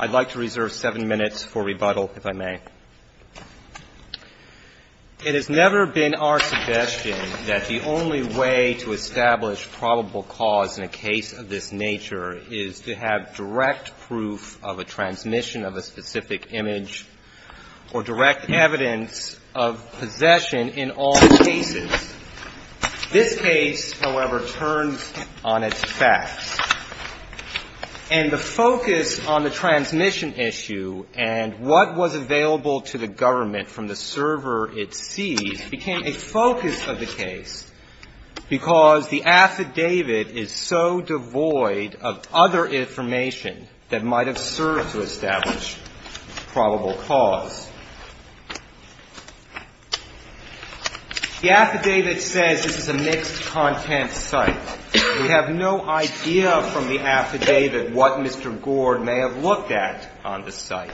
I'd like to reserve seven minutes for rebuttal, if I may. It has never been our suggestion that the only way to establish probable cause in a case of this nature is to have direct proof of a transmission of a specific image or direct evidence of possession in all cases. This case, however, turns on its facts. And the focus on the transmission issue and what was available to the government from the server it sees became a focus of the case because the affidavit is so devoid of other information that might have served to establish probable cause. The affidavit says this is a mixed-content site. We have no idea from the affidavit what Mr. Gourde may have looked at on the site.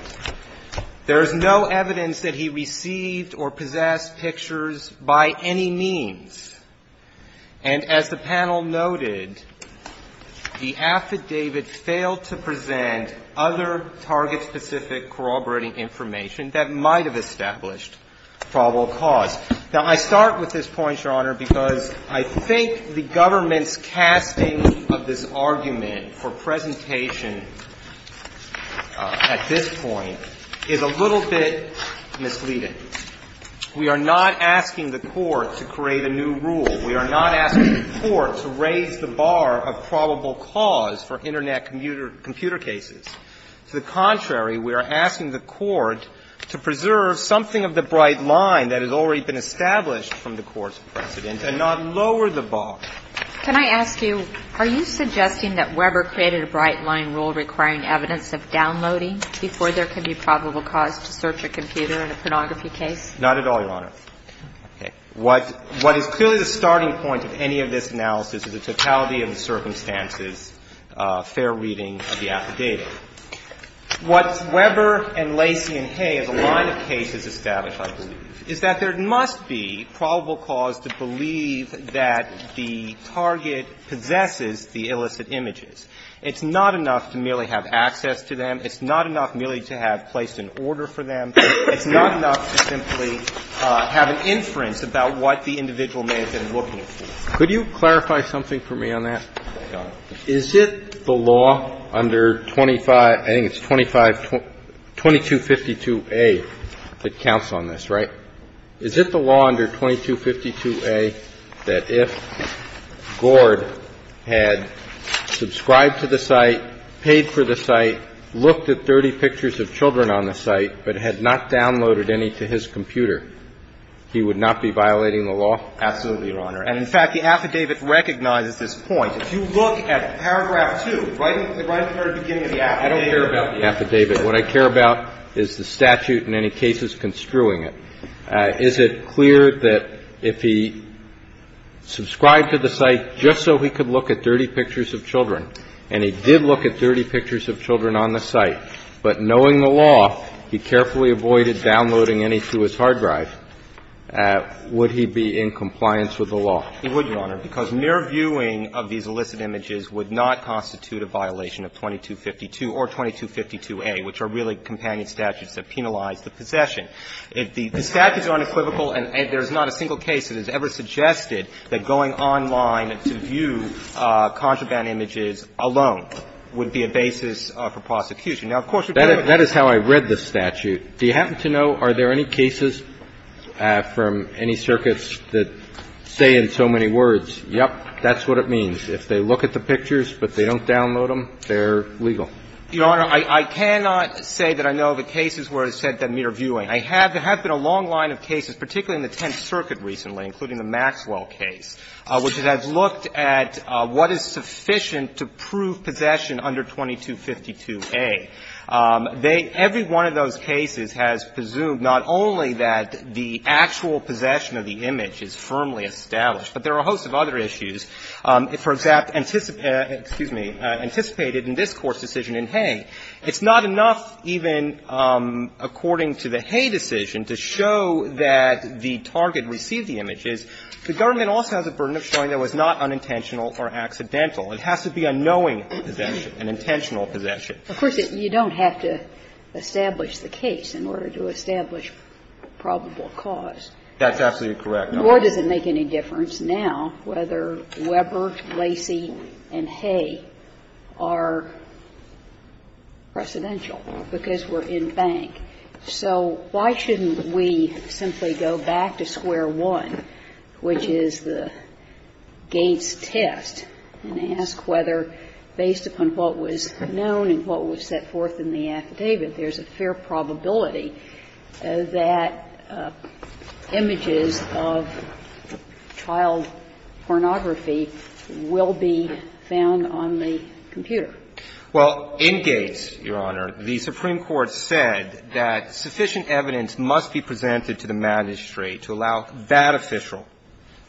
There is no evidence that he received or possessed pictures by any means. And as the panel noted, the affidavit failed to present other target-specific corroborating information that might have established probable cause. Now, I start with this point, Your Honor, because I think the government's casting of this argument for presentation at this point is a little bit misleading. We are not asking the Court to create a new rule. We are not asking the Court to raise the bar of probable cause for Internet computer cases. To the contrary, we are asking the Court to preserve something of the bright line that has already been established from the Court's precedent and not lower the bar. Can I ask you, are you suggesting that Weber created a bright-line rule requiring evidence of downloading before there can be probable cause to search a computer in a pornography case? Not at all, Your Honor. Okay. What is clearly the starting point of any of this analysis is a totality-of-circumstances fair reading of the affidavit. What Weber and Lacy and Hay, as a line of cases established, I believe, is that there must be probable cause to believe that the target possesses the illicit images. It's not enough to merely have access to them. It's not enough merely to have place and order for them. It's not enough to simply have an inference about what the individual may have been looking for. Could you clarify something for me on that? Yes, Your Honor. Is it the law under 25 — I think it's 2252a that counts on this, right? Is it the law under 2252a that if Gord had subscribed to the site, paid for the site, looked at 30 pictures of children on the site, but had not downloaded any to his computer, he would not be violating the law? Absolutely, Your Honor. And, in fact, the affidavit recognizes this point. If you look at paragraph 2, right at the very beginning of the affidavit. I don't care about the affidavit. What I care about is the statute in any cases construing it. Is it clear that if he subscribed to the site just so he could look at 30 pictures of children, and he did look at 30 pictures of children on the site, but knowing the law, he carefully avoided downloading any to his hard drive, would he be in compliance with the law? He would, Your Honor, because mere viewing of these illicit images would not constitute a violation of 2252 or 2252a, which are really companion statutes that penalize the possession. The statute is unequivocal, and there's not a single case that has ever suggested that going online to view contraband images alone would be a basis for prosecution. Now, of course, you're going to have to look at the pictures. That is how I read the statute. Do you happen to know, are there any cases from any circuits that say in so many words, yes, that's what it means? If they look at the pictures but they don't download them, they're legal? Your Honor, I cannot say that I know of a case where it said that mere viewing. There have been a long line of cases, particularly in the Tenth Circuit recently, including the Maxwell case, which has looked at what is sufficient to prove possession under 2252a. Every one of those cases has presumed not only that the actual possession of the image is firmly established, but there are a host of other issues. For example, anticipated in this Court's decision in Hay, it's not enough even according to the Hay decision to show that the target received the images. The government also has a burden of showing it was not unintentional or accidental. It has to be a knowing possession, an intentional possession. Of course, you don't have to establish the case in order to establish probable cause. That's absolutely correct. Sotomayor, does it make any difference now whether Weber, Lacey, and Hay are precedential because we're in bank? So why shouldn't we simply go back to square one, which is the Gates test, and ask whether, based upon what was known and what was set forth in the affidavit, there's a fair probability that images of child pornography will be found on the computer? Well, in Gates, Your Honor, the Supreme Court said that sufficient evidence must be presented to the magistrate to allow that official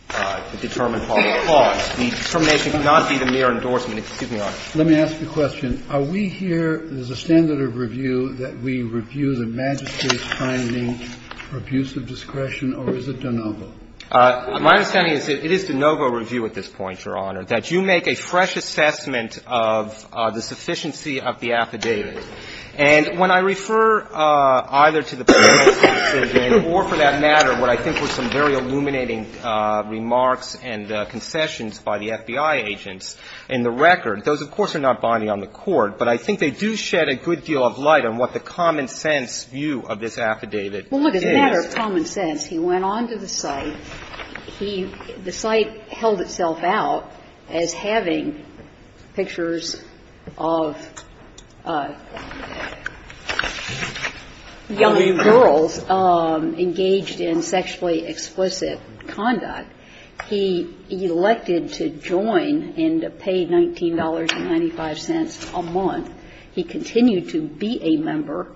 to determine probable cause. The determination cannot be the mere endorsement of the Supreme Court. Let me ask you a question. Are we here, as a standard of review, that we review the magistrate's finding for abuse of discretion, or is it de novo? My understanding is that it is de novo review at this point, Your Honor, that you make a fresh assessment of the sufficiency of the affidavit. And when I refer either to the previous decision or, for that matter, what I think were some very illuminating remarks and concessions by the FBI agents in the record, those, of course, are not bonding on the Court, but I think they do shed a good deal of light on what the common sense view of this affidavit is. Well, look, as a matter of common sense, he went on to the site. He – the site held itself out as having pictures of young girls engaged in sexually explicit conduct. He elected to join and pay $19.95 a month. He continued to be a member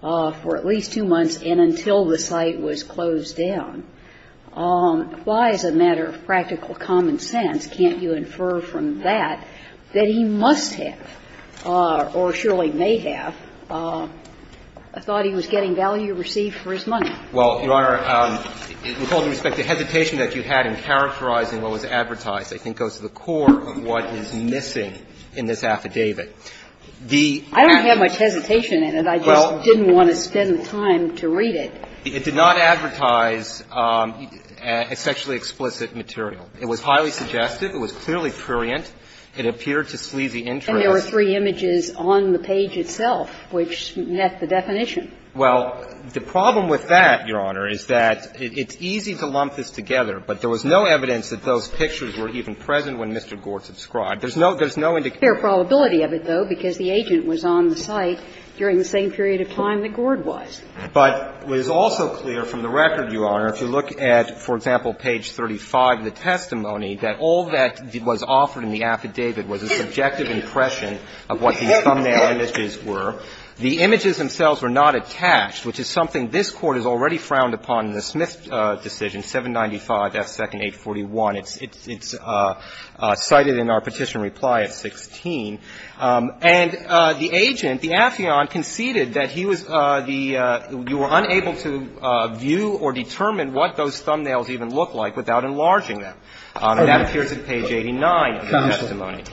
for at least two months and until the site was closed down. Why, as a matter of practical common sense, can't you infer from that that he must have or surely may have thought he was getting value received for his money? Well, Your Honor, with all due respect, the hesitation that you had in characterizing what was advertised, I think, goes to the core of what is missing in this affidavit. is that he was getting value received for his money. I don't have much hesitation in it. I just didn't want to spend the time to read it. It did not advertise a sexually explicit material. It was highly suggestive. It was clearly prurient. It appeared to sleazy interest. And there were three images on the page itself which met the definition. Well, the problem with that, Your Honor, is that it's easy to lump this together. But there was no evidence that those pictures were even present when Mr. Gord subscribed. There's no indication. There's a fair probability of it, though, because the agent was on the site during the same period of time that Gord was. But it is also clear from the record, Your Honor, if you look at, for example, page 35 of the testimony, that all that was offered in the affidavit was a subjective impression of what these thumbnail images were. The images themselves were not attached, which is something this Court has already frowned upon in the Smith decision, 795 F. 2nd 841. It's cited in our petition reply at 16. And the agent, the affiant, conceded that he was the you were unable to view or determine what those thumbnails even looked like without enlarging them. And that appears at page 89 of the testimony.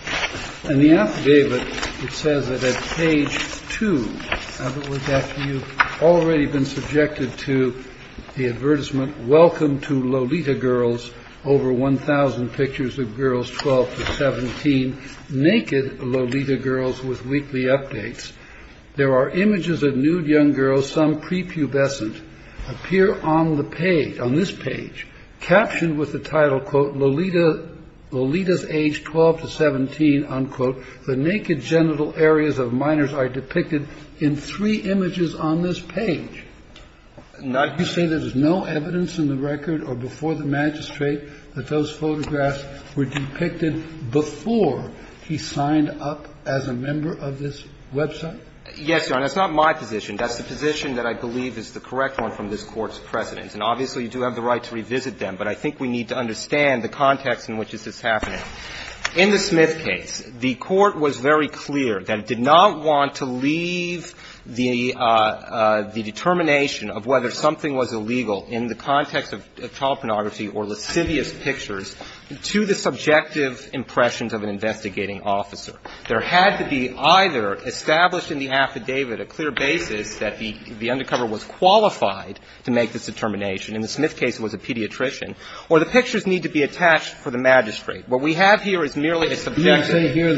And the affidavit, it says that at page 2, you've already been subjected to the advertisement, welcome to Lolita girls, over 1,000 pictures of girls 12 to 17, naked Lolita girls with weekly updates. There are images of nude young girls, some prepubescent, appear on the page, on this page, captioned with the title, quote, Lolita, Lolita's age 12 to 17, unquote. The naked genital areas of minors are depicted in three images on this page. Now, you say there's no evidence in the record or before the magistrate that those photographs were depicted before he signed up as a member of this website? Yes, Your Honor. That's not my position. That's the position that I believe is the correct one from this Court's precedents. And obviously, you do have the right to revisit them. But I think we need to understand the context in which this is happening. In the Smith case, the Court was very clear that it did not want to leave the determination of whether something was illegal in the context of child pornography or lascivious pictures to the subjective impressions of an investigating officer. There had to be either established in the affidavit a clear basis that the undercover was qualified to make this determination. In the Smith case, it was a pediatrician. Or the pictures need to be attached for the magistrate. What we have here is merely a subjective. You're saying here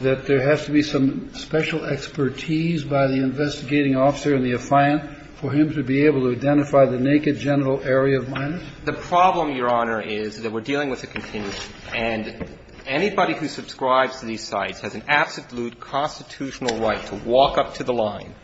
that there has to be some special expertise by the investigating officer in the affiant for him to be able to identify the naked genital area of minors? The problem, Your Honor, is that we're dealing with a continuation. And anybody who subscribes to these sites has an absolute constitutional right to walk up to the line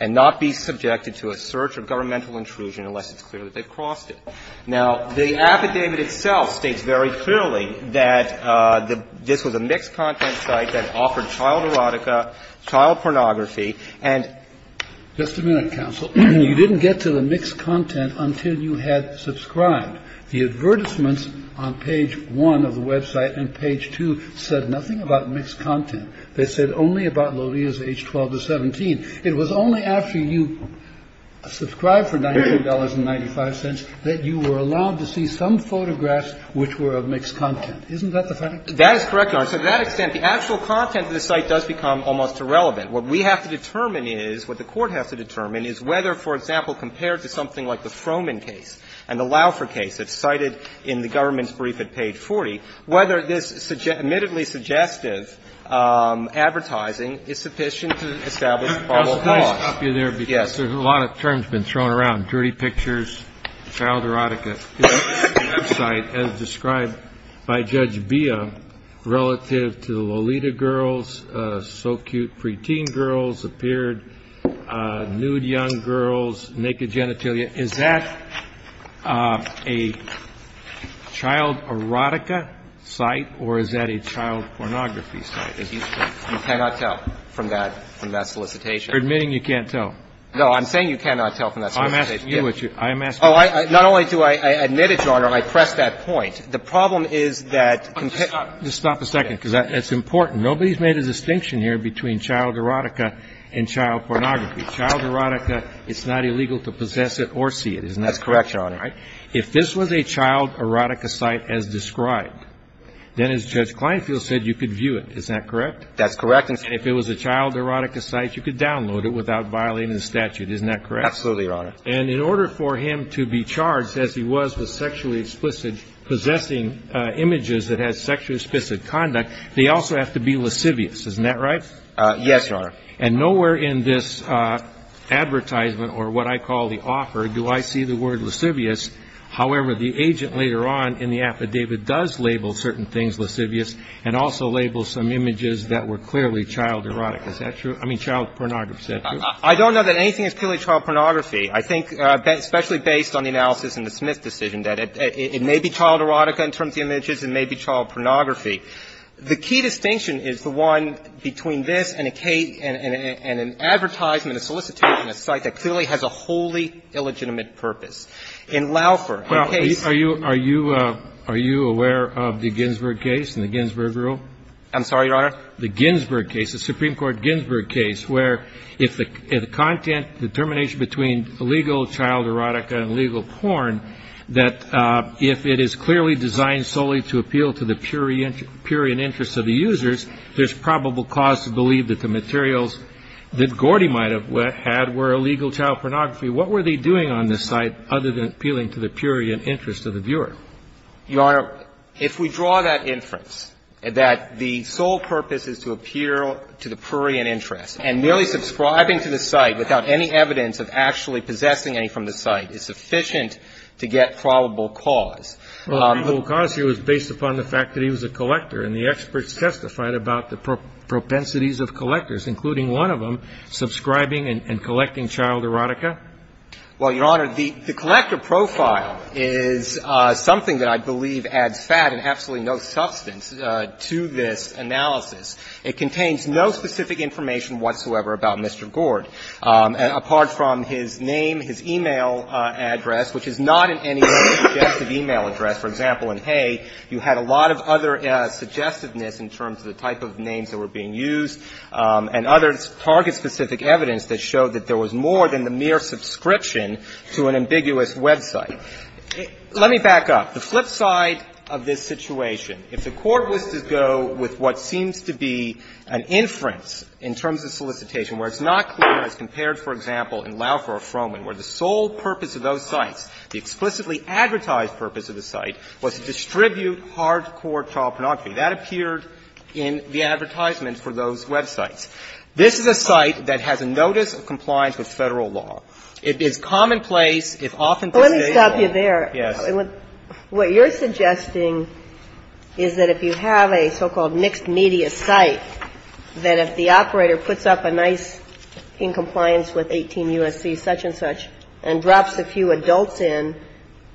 and not be subjected to a search or governmental intrusion unless it's clear that they've crossed it. Now, the affidavit itself states very clearly that this was a mixed-content site that offered child erotica, child pornography. And just a minute, counsel. You didn't get to the mixed content until you had subscribed. The advertisements on page 1 of the website and page 2 said nothing about mixed content. They said only about Lodia's age 12 to 17. It was only after you subscribed for $19.95 that you were allowed to see some photographs which were of mixed content. Isn't that the fact? That is correct, Your Honor. So to that extent, the actual content of the site does become almost irrelevant. What we have to determine is, what the Court has to determine is whether, for example, compared to something like the Froman case and the Laufer case that's cited in the government's brief at page 40, whether this admittedly suggestive advertising is sufficient to establish probable cause. Yes. There's a lot of terms been thrown around, dirty pictures, child erotica. The website, as described by Judge Beah, relative to Lolita girls, so cute preteen girls appeared, nude young girls, naked genitalia. Is that a child erotica site or is that a child pornography site? You cannot tell from that solicitation. You're admitting you can't tell. No, I'm saying you cannot tell from that solicitation. I'm asking you. I'm asking you. Well, not only do I admit it, Your Honor, and I press that point. The problem is that. Just stop a second, because that's important. Nobody's made a distinction here between child erotica and child pornography. Child erotica, it's not illegal to possess it or see it, isn't that right? That's correct, Your Honor. If this was a child erotica site as described, then as Judge Kleinfeld said, you could view it, is that correct? That's correct. And if it was a child erotica site, you could download it without violating the statute, isn't that correct? Absolutely, Your Honor. And in order for him to be charged, as he was with sexually explicit, possessing images that had sexually explicit conduct, they also have to be lascivious, isn't that right? Yes, Your Honor. And nowhere in this advertisement or what I call the offer do I see the word lascivious. However, the agent later on in the affidavit does label certain things lascivious and also labels some images that were clearly child erotica. Is that true? I mean, child pornography. I don't know that anything is purely child pornography. I think, especially based on the analysis in the Smith decision, that it may be child erotica in terms of images, it may be child pornography. The key distinction is the one between this and a case and an advertisement, a solicitation, a site that clearly has a wholly illegitimate purpose. In Laufer, the case of the Ginsburg case, the Supreme Court Ginsburg case, where the content determination between illegal child erotica and illegal porn, that if it is clearly designed solely to appeal to the prurient interests of the users, there's probable cause to believe that the materials that Gordy might have had were illegal child pornography. What were they doing on this site other than appealing to the prurient interests of the viewer? Your Honor, if we draw that inference, that the sole purpose is to appeal to the prurient interests, and merely subscribing to the site without any evidence of actually possessing any from the site is sufficient to get probable cause. Well, probable cause here was based upon the fact that he was a collector, and the experts testified about the propensities of collectors, including one of them, subscribing and collecting child erotica? Well, Your Honor, the collector profile is something that I believe adds fat and absolutely no substance to this analysis. It contains no specific information whatsoever about Mr. Gord, apart from his name, his e-mail address, which is not in any suggestive e-mail address. For example, in Hay, you had a lot of other suggestiveness in terms of the type of names that were being used, and other target-specific evidence that showed that there was more than the mere subscription to an ambiguous website. Let me back up. The flip side of this situation, if the court was to go with what seems to be an inference in terms of solicitation where it's not clear, as compared, for example, in Laufer or Froman, where the sole purpose of those sites, the explicitly advertised purpose of the site, was to distribute hardcore child pornography, that appeared in the advertisement for those websites. This is a site that has a notice of compliance with Federal law. It is commonplace, if often to state law. But the question is, if there are, what you're suggesting is that if you have a so-called mixed media site, that if the operator puts up a nice, in compliance with 18 U.S.C. such and such, and drops a few adults in,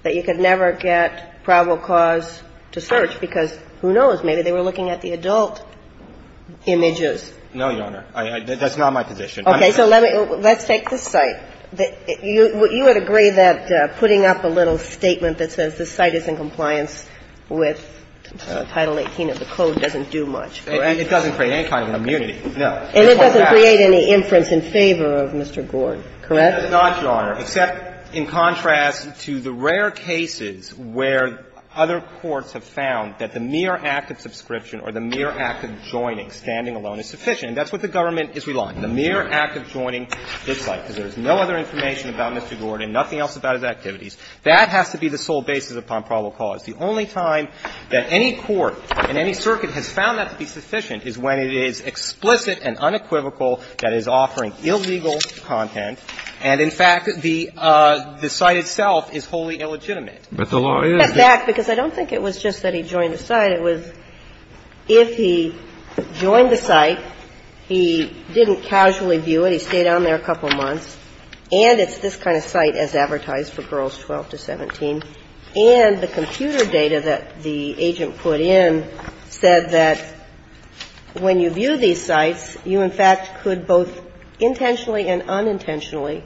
that you could never get probable cause to search, because who knows, maybe they were looking at the adult images. No, Your Honor. That's not my position. Okay. So let's take this site. You would agree that putting up a little statement that says this site is in compliance with Title 18 of the Code doesn't do much. It doesn't create any kind of an immunity, no. And it doesn't create any inference in favor of Mr. Gord, correct? It does not, Your Honor, except in contrast to the rare cases where other courts have found that the mere act of subscription or the mere act of joining, standing alone, is sufficient. That's what the government is relying on. The mere act of joining this site, because there's no other information about Mr. Gord and nothing else about his activities, that has to be the sole basis upon probable cause. The only time that any court in any circuit has found that to be sufficient is when it is explicit and unequivocal that it is offering illegal content, and in fact, the site itself is wholly illegitimate. But the law is. In fact, because I don't think it was just that he joined the site. It was if he joined the site, he didn't casually view it, he stayed on there a couple months, and it's this kind of site as advertised for girls 12 to 17, and the computer data that the agent put in said that when you view these sites, you, in fact, could both intentionally and unintentionally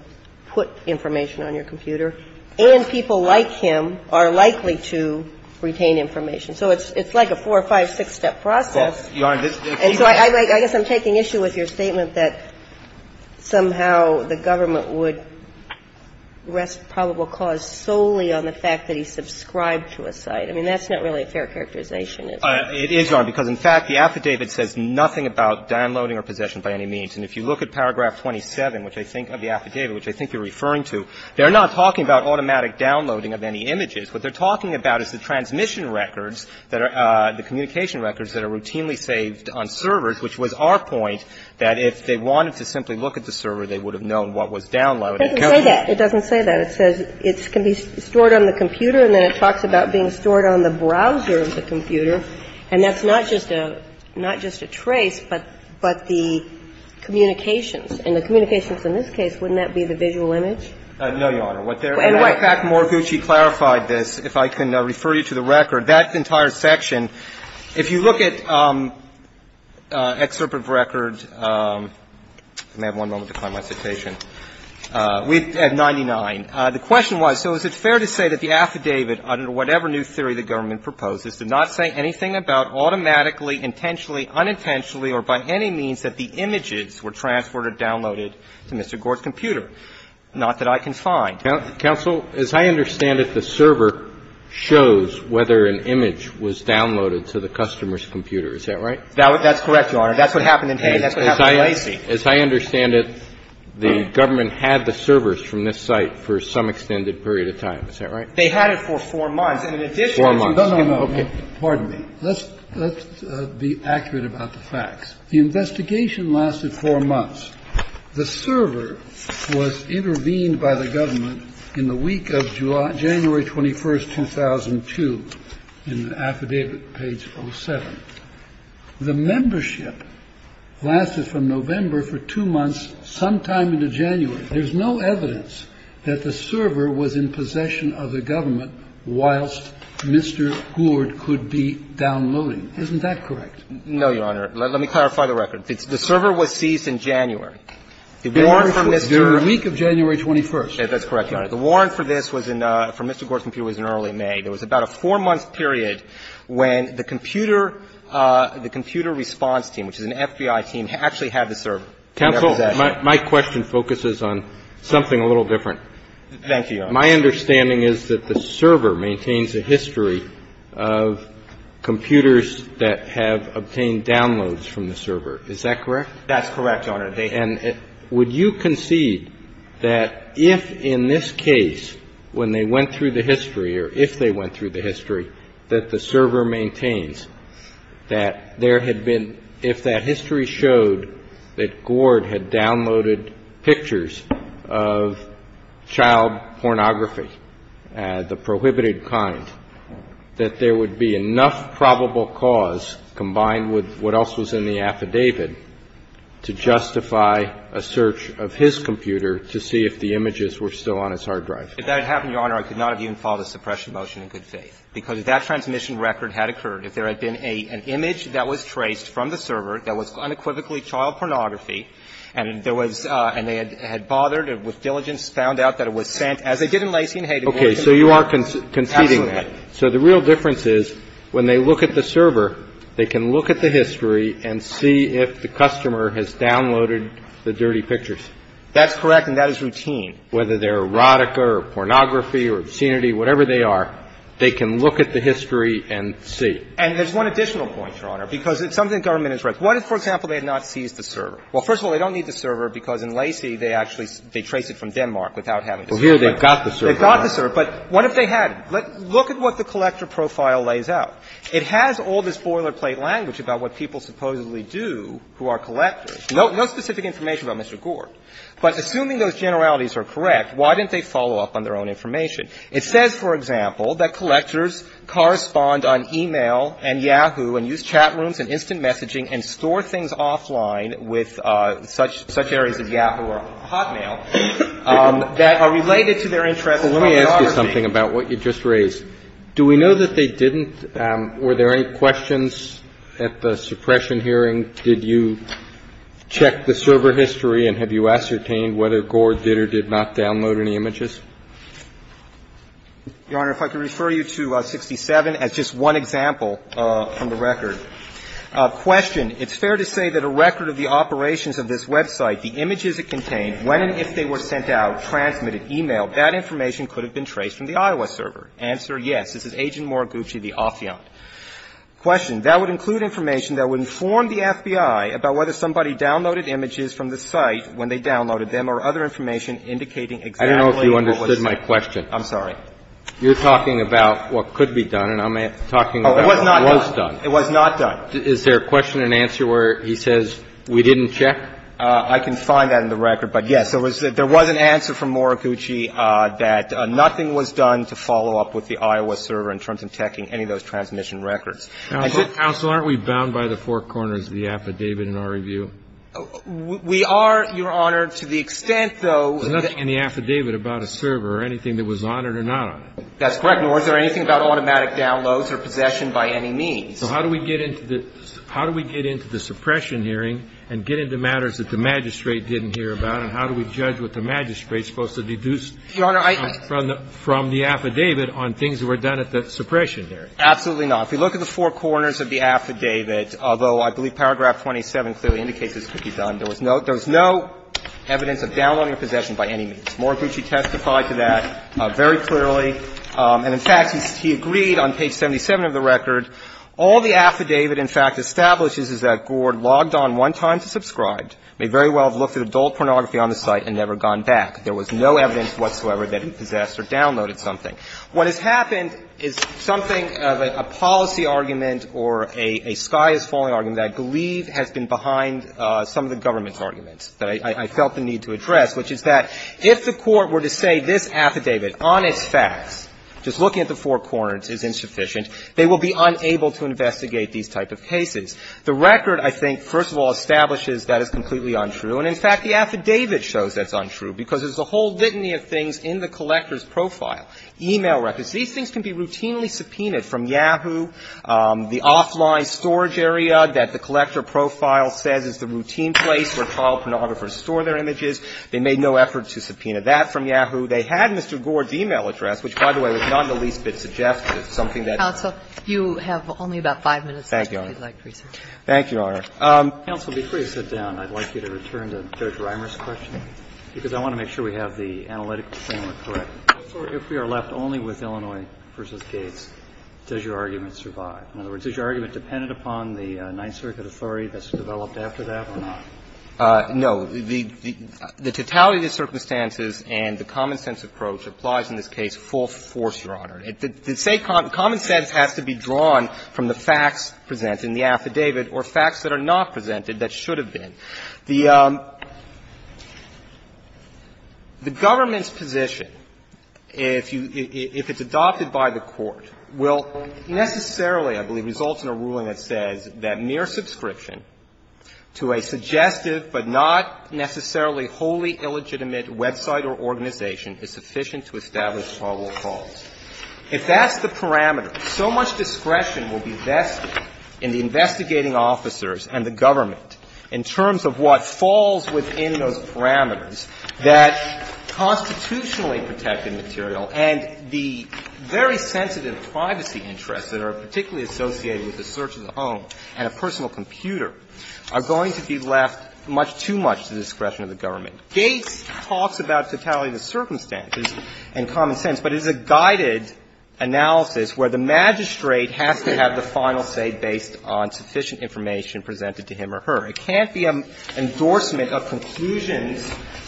put information on your computer, and people like him are likely to retain information. So it's like a four-, five-, six-step process. And so I guess I'm taking issue with your statement that somehow the government would rest probable cause solely on the fact that he subscribed to a site. I mean, that's not really a fair characterization, is it? It is, Your Honor, because in fact, the affidavit says nothing about downloading or possession by any means. And if you look at paragraph 27 of the affidavit, which I think you're referring to, they're not talking about automatic downloading of any images. What they're talking about is the transmission records that are the communication records that are routinely saved on servers, which was our point that if they wanted to simply look at the server, they would have known what was downloaded. It doesn't say that. It says it can be stored on the computer, and then it talks about being stored on the browser of the computer, and that's not just a trace, but the communications. And the communications in this case, wouldn't that be the visual image? No, Your Honor. And in fact, Morigucci clarified this, if I can refer you to the record. That entire section, if you look at excerpt of record, I may have one moment to find my citation, at 99, the question was, so is it fair to say that the affidavit under whatever new theory the government proposes did not say anything about automatically, intentionally, unintentionally, or by any means that the images were transferred or downloaded to Mr. Gore's computer? Not that I can find. Counsel, as I understand it, the server shows whether an image was downloaded to the customer's computer, is that right? That's correct, Your Honor. That's what happened in Hayes. That's what happened in Lacey. As I understand it, the government had the servers from this site for some extended period of time, is that right? They had it for 4 months. And in addition to that, you know, pardon me, let's be accurate about the facts. The investigation lasted 4 months. The server was intervened by the government in the week of January 21, 2002, in the affidavit page 07. The membership lasted from November for 2 months, sometime into January. There's no evidence that the server was in possession of the government whilst Mr. Gourd could be downloading. Isn't that correct? No, Your Honor. Let me clarify the record. The server was seized in January. The warrant for Mr. Gourd. The week of January 21st. That's correct, Your Honor. The warrant for this was in Mr. Gourd's computer was in early May. There was about a 4-month period when the computer response team, which is an FBI team, actually had the server in their possession. Counsel, my question focuses on something a little different. Thank you, Your Honor. My understanding is that the server maintains a history of computers that have obtained downloads from the server. Is that correct? That's correct, Your Honor. And would you concede that if in this case, when they went through the history or if they went through the history, that the server maintains that there had been – if that history showed that Gourd had downloaded pictures of child pornography, the prohibited kind, that there would be enough probable cause combined with what else was in the affidavit to justify a search of his computer to see if the images were still on his hard drive? If that had happened, Your Honor, I could not have even filed a suppression motion in good faith, because if that transmission record had occurred, if there had been an image that was traced from the server that was unequivocally child pornography, and there was – and they had bothered with diligence, found out that it was sent, as they did in Lacey and Hayden, what would have occurred? Okay. So you are conceding that. Absolutely. So the real difference is when they look at the server, they can look at the history and see if the customer has downloaded the dirty pictures. That's correct, and that is routine. Whether they're erotica or pornography or obscenity, whatever they are, they can look at the history and see. And there's one additional point, Your Honor, because it's something the government has read. What if, for example, they had not seized the server? Well, first of all, they don't need the server, because in Lacey, they actually – they trace it from Denmark without having to search. Well, here they've got the server. They've got the server. But what if they hadn't? Look at what the collector profile lays out. It has all this boilerplate language about what people supposedly do who are collectors. No specific information about Mr. Gore. But assuming those generalities are correct, why didn't they follow up on their own information? It says, for example, that collectors correspond on e-mail and Yahoo and use chat rooms and instant messaging and store things offline with such areas of Yahoo or Hotmail that are related to their interest in pornography. And that's what we're trying to do here. We're trying to do something about what you just raised. Do we know that they didn't? Were there any questions at the suppression hearing? Did you check the server history, and have you ascertained whether Gore did or did not download any images? Your Honor, if I could refer you to 67 as just one example from the record. Question. It's fair to say that a record of the operations of this website, the images it contained, when and if they were sent out, transmitted, e-mailed, that information could have been traced from the Iowa server. Answer, yes. This is Agent Moriguchi, the affiant. Question. That would include information that would inform the FBI about whether somebody downloaded images from the site when they downloaded them or other information indicating exactly what was sent. I don't know if you understood my question. I'm sorry. You're talking about what could be done, and I'm talking about what was done. It was not done. Is there a question and answer where he says, we didn't check? I can find that in the record. But, yes, there was an answer from Moriguchi that nothing was done to follow up with the Iowa server in terms of checking any of those transmission records. Counsel, aren't we bound by the four corners of the affidavit in our review? We are, Your Honor, to the extent, though. There's nothing in the affidavit about a server or anything that was on it or not on it. That's correct, Your Honor. Is there anything about automatic downloads or possession by any means? So how do we get into the suppression hearing and get into matters that the magistrate didn't hear about, and how do we judge what the magistrate is supposed to deduce from the affidavit on things that were done at the suppression hearing? Absolutely not. If you look at the four corners of the affidavit, although I believe paragraph 27 clearly indicates this could be done, there was no evidence of downloading or possession by any means. Moriguchi testified to that very clearly. And, in fact, he agreed on page 77 of the record. All the affidavit, in fact, establishes is that Gord logged on one time to subscribe, may very well have looked at adult pornography on the site, and never gone back. There was no evidence whatsoever that he possessed or downloaded something. What has happened is something, a policy argument or a sky is falling argument that I believe has been behind some of the government's arguments that I felt the need to address, which is that if the Court were to say this affidavit, honest facts, just looking at the four corners is insufficient, they will be unable to investigate these type of cases. The record, I think, first of all, establishes that is completely untrue. And, in fact, the affidavit shows that's untrue, because there's a whole litany of things in the collector's profile, e-mail records. These things can be routinely subpoenaed from Yahoo, the offline storage area that the collector profile says is the routine place where child pornographers store their images. They made no effort to subpoena that from Yahoo. They had Mr. Gord's e-mail address, which, by the way, was not in the least bit suggestive, something that you have only about five minutes left if you'd like to resubmit. Thank you, Your Honor. Thank you, Your Honor. Counsel, before you sit down, I'd like you to return to Judge Reimer's question, because I want to make sure we have the analytic framework correct. If we are left only with Illinois v. Gates, does your argument survive? In other words, is your argument dependent upon the Ninth Circuit authority that's developed after that or not? No. The totality of the circumstances and the common-sense approach applies in this case full force, Your Honor. The common sense has to be drawn from the facts presented in the affidavit or facts that are not presented that should have been. The government's position, if you – if it's adopted by the Court, will necessarily I believe results in a ruling that says that mere subscription to a suggestive but not necessarily wholly illegitimate website or organization is sufficient to establish probable cause. If that's the parameter, so much discretion will be vested in the investigating officers and the government in terms of what falls within those parameters that constitutionally protected material and the very sensitive privacy interests that are particularly associated with the search of the home and a personal computer are going to be left much too much to the discretion of the government. Gates talks about totality of the circumstances and common sense, but it is a guided analysis where the magistrate has to have the final say based on sufficient information presented to him or her. It can't be an endorsement of conclusions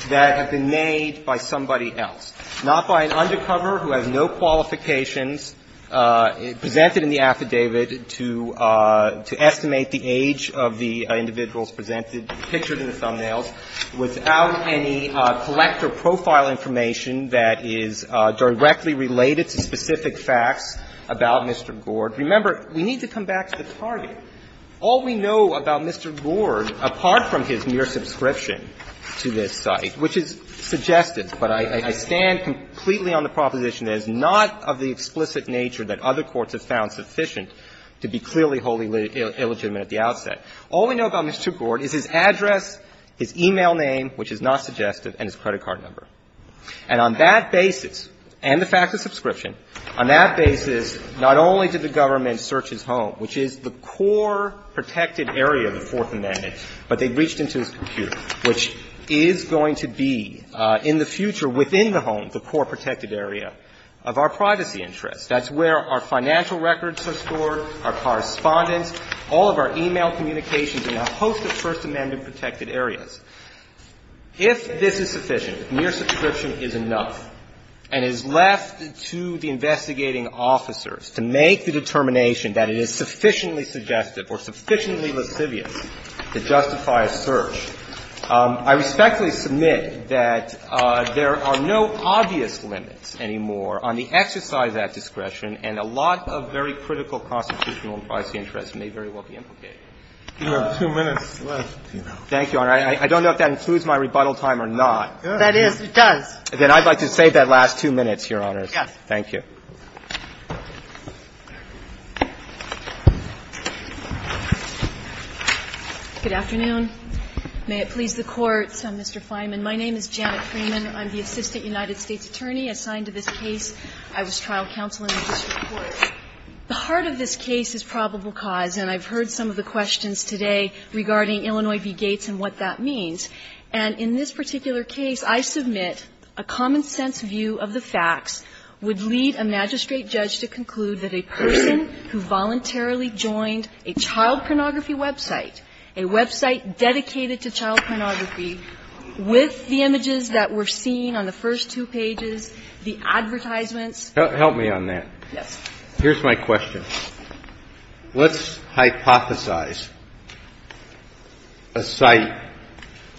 that have been made by somebody else, not by an undercover who has no qualifications presented in the affidavit to estimate the age of the individuals presented, pictured in the thumbnails, without any collector profile information that is directly related to specific facts about Mr. Gord. Remember, we need to come back to the target. All we know about Mr. Gord, apart from his mere subscription to this site, which is suggested, but I stand completely on the proposition that it's not of the explicit nature that other courts have found sufficient to be clearly wholly illegitimate at the outset. All we know about Mr. Gord is his address, his e-mail name, which is not suggested, and his credit card number. And on that basis, and the fact of subscription, on that basis, not only did the government search his home, which is the core protected area of the Fourth Amendment, but they reached into his computer, which is going to be in the future within the home, the core protected area, of our privacy interests. That's where our financial records are stored, our correspondence, all of our e-mail communications, and a host of First Amendment protected areas. If this is sufficient, if mere subscription is enough and is left to the investigating officers to make the determination that it is sufficiently suggestive or sufficiently lascivious to justify a search, I respectfully submit that there are no obvious limits anymore on the exercise of that discretion, and a lot of very critical constitutional and privacy interests may very well be implicated. Thank you, Your Honor. I don't know if that includes my rebuttal time or not. That is, it does. Then I'd like to save that last two minutes, Your Honors. Yes. Thank you. Freeman, I'm the Assistant United States Attorney assigned to this case. I was trial counsel in the district court. The heart of this case is probable cause, and I've heard some of the questions today regarding Illinois v. Gates and what that means. And in this particular case, I submit a common-sense view of the facts would lead a magistrate judge to conclude that a person who voluntarily joined a child pornography website, a website dedicated to child pornography, with the images that were seen on the first two pages, the advertisements. Help me on that. Yes. Here's my question. Let's hypothesize a site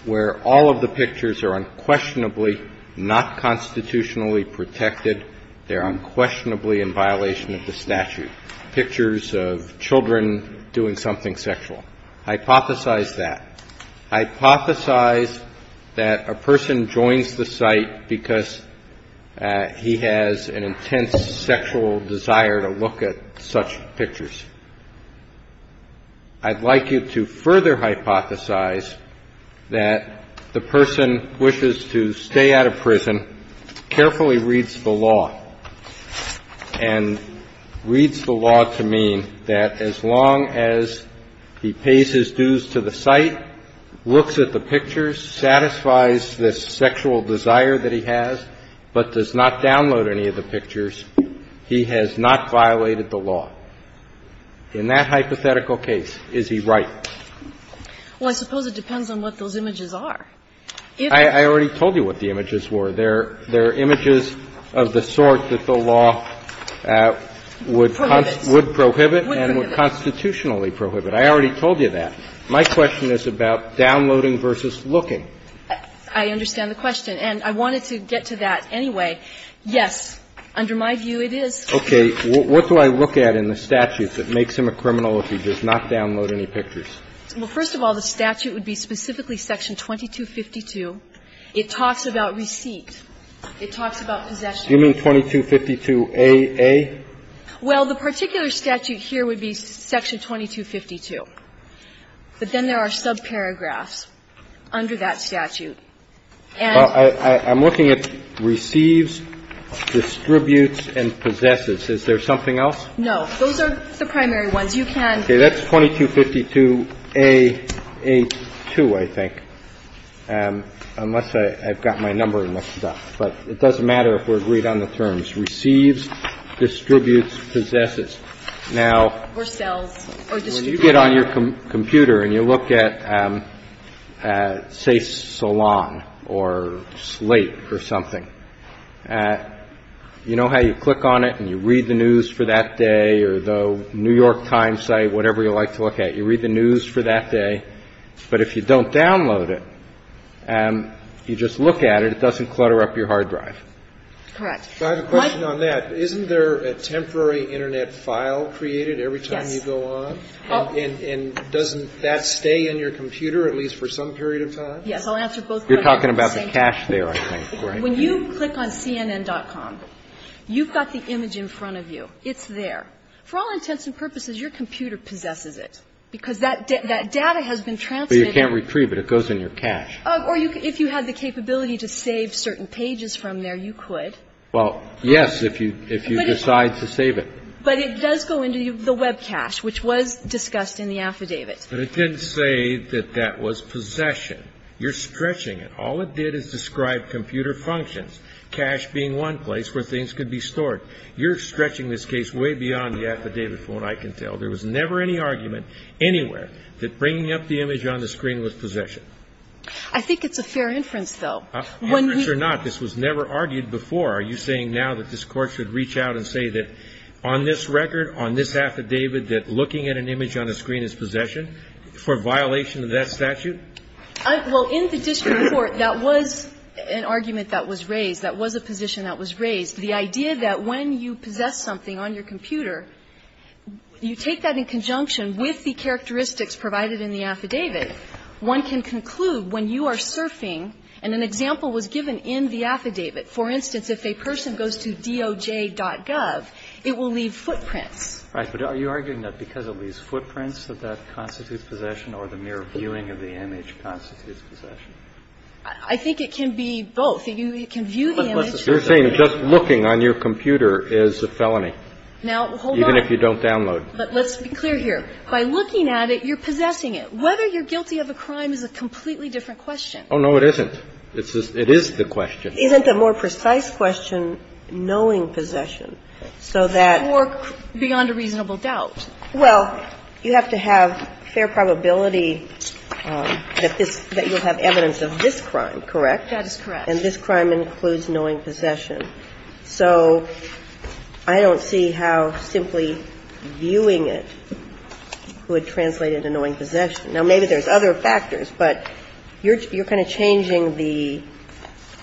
where all of the pictures are unquestionably not constitutionally protected, they're unquestionably in violation of the statute, pictures of children doing something sexual. Hypothesize that. Hypothesize that a person joins the site because he has an intense sexual desire to look at such pictures. I'd like you to further hypothesize that the person wishes to stay out of prison, and carefully reads the law, and reads the law to mean that as long as he pays his dues to the site, looks at the pictures, satisfies the sexual desire that he has, but does not download any of the pictures, he has not violated the law. In that hypothetical case, is he right? Well, I suppose it depends on what those images are. I already told you what the images were. They're images of the sort that the law would prohibit and would constitutionally prohibit. I already told you that. My question is about downloading versus looking. I understand the question, and I wanted to get to that anyway. Yes, under my view, it is. Okay. What do I look at in the statute that makes him a criminal if he does not download any pictures? Well, first of all, the statute would be specifically section 2252. It talks about receipt. It talks about possession. You mean 2252aA? Well, the particular statute here would be section 2252. But then there are subparagraphs under that statute. And the statute would be section 2252aA. I'm looking at receives, distributes, and possesses. Is there something else? No. Those are the primary ones. You can go to 2252aA2, I think. Unless I've got my number mixed up. But it doesn't matter if we're agreed on the terms, receives, distributes, possesses. Now, when you get on your computer and you look at, say, Salon or Slate or something, you know how you click on it and you read the news for that day or the New York Times site, whatever you like to look at. You read the news for that day. But if you don't download it and you just look at it, it doesn't clutter up your hard drive. Correct. I have a question on that. Isn't there a temporary Internet file created every time you go on? Yes. And doesn't that stay in your computer at least for some period of time? Yes. I'll answer both questions. You're talking about the cache there, I think. When you click on CNN.com, you've got the image in front of you. It's there. For all intents and purposes, your computer possesses it, because that data has been transmitted. But you can't retrieve it. It goes in your cache. Or if you had the capability to save certain pages from there, you could. Well, yes, if you decide to save it. But it does go into the web cache, which was discussed in the affidavit. But it didn't say that that was possession. You're stretching it. All it did is describe computer functions, cache being one place where things could be stored. You're stretching this case way beyond the affidavit, from what I can tell. There was never any argument anywhere that bringing up the image on the screen was possession. I think it's a fair inference, though. Inference or not, this was never argued before. Are you saying now that this Court should reach out and say that on this record, on this affidavit, that looking at an image on the screen is possession for violation of that statute? Well, in the district court, that was an argument that was raised. That was a position that was raised. The idea that when you possess something on your computer, you take that in conjunction with the characteristics provided in the affidavit. One can conclude when you are surfing, and an example was given in the affidavit. For instance, if a person goes to DOJ.gov, it will leave footprints. Right. But are you arguing that because it leaves footprints that that constitutes possession or the mere viewing of the image constitutes possession? I think it can be both. It can view the image. You're saying just looking on your computer is a felony. Now, hold on. Even if you don't download. But let's be clear here. By looking at it, you're possessing it. Whether you're guilty of a crime is a completely different question. Oh, no, it isn't. It is the question. Isn't the more precise question knowing possession so that. Or beyond a reasonable doubt. Well, you have to have fair probability that this you'll have evidence of this crime, correct? That is correct. And this crime includes knowing possession. So I don't see how simply viewing it would translate into knowing possession. Now, maybe there's other factors, but you're kind of changing the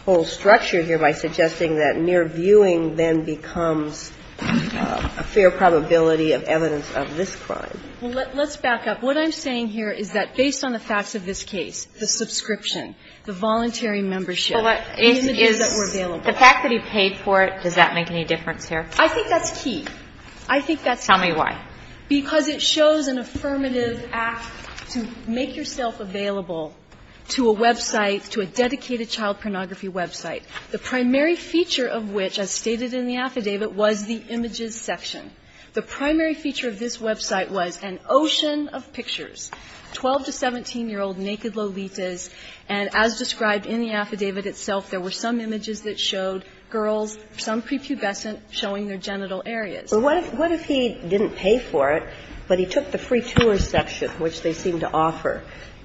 whole structure here by suggesting that mere viewing then becomes a fair probability of evidence of this crime. Well, let's back up. What I'm saying here is that based on the facts of this case, the subscription, the voluntary membership. The fact that he paid for it, does that make any difference here? I think that's key. I think that's key. Tell me why. Because it shows an affirmative act to make yourself available to a website, to a dedicated child pornography website, the primary feature of which, as stated in the affidavit, was the images section. The primary feature of this website was an ocean of pictures, 12 to 17-year-old naked Lolitas. And as described in the affidavit itself, there were some images that showed girls, some prepubescent, showing their genital areas. But what if he didn't pay for it, but he took the free tour section, which they seem to offer,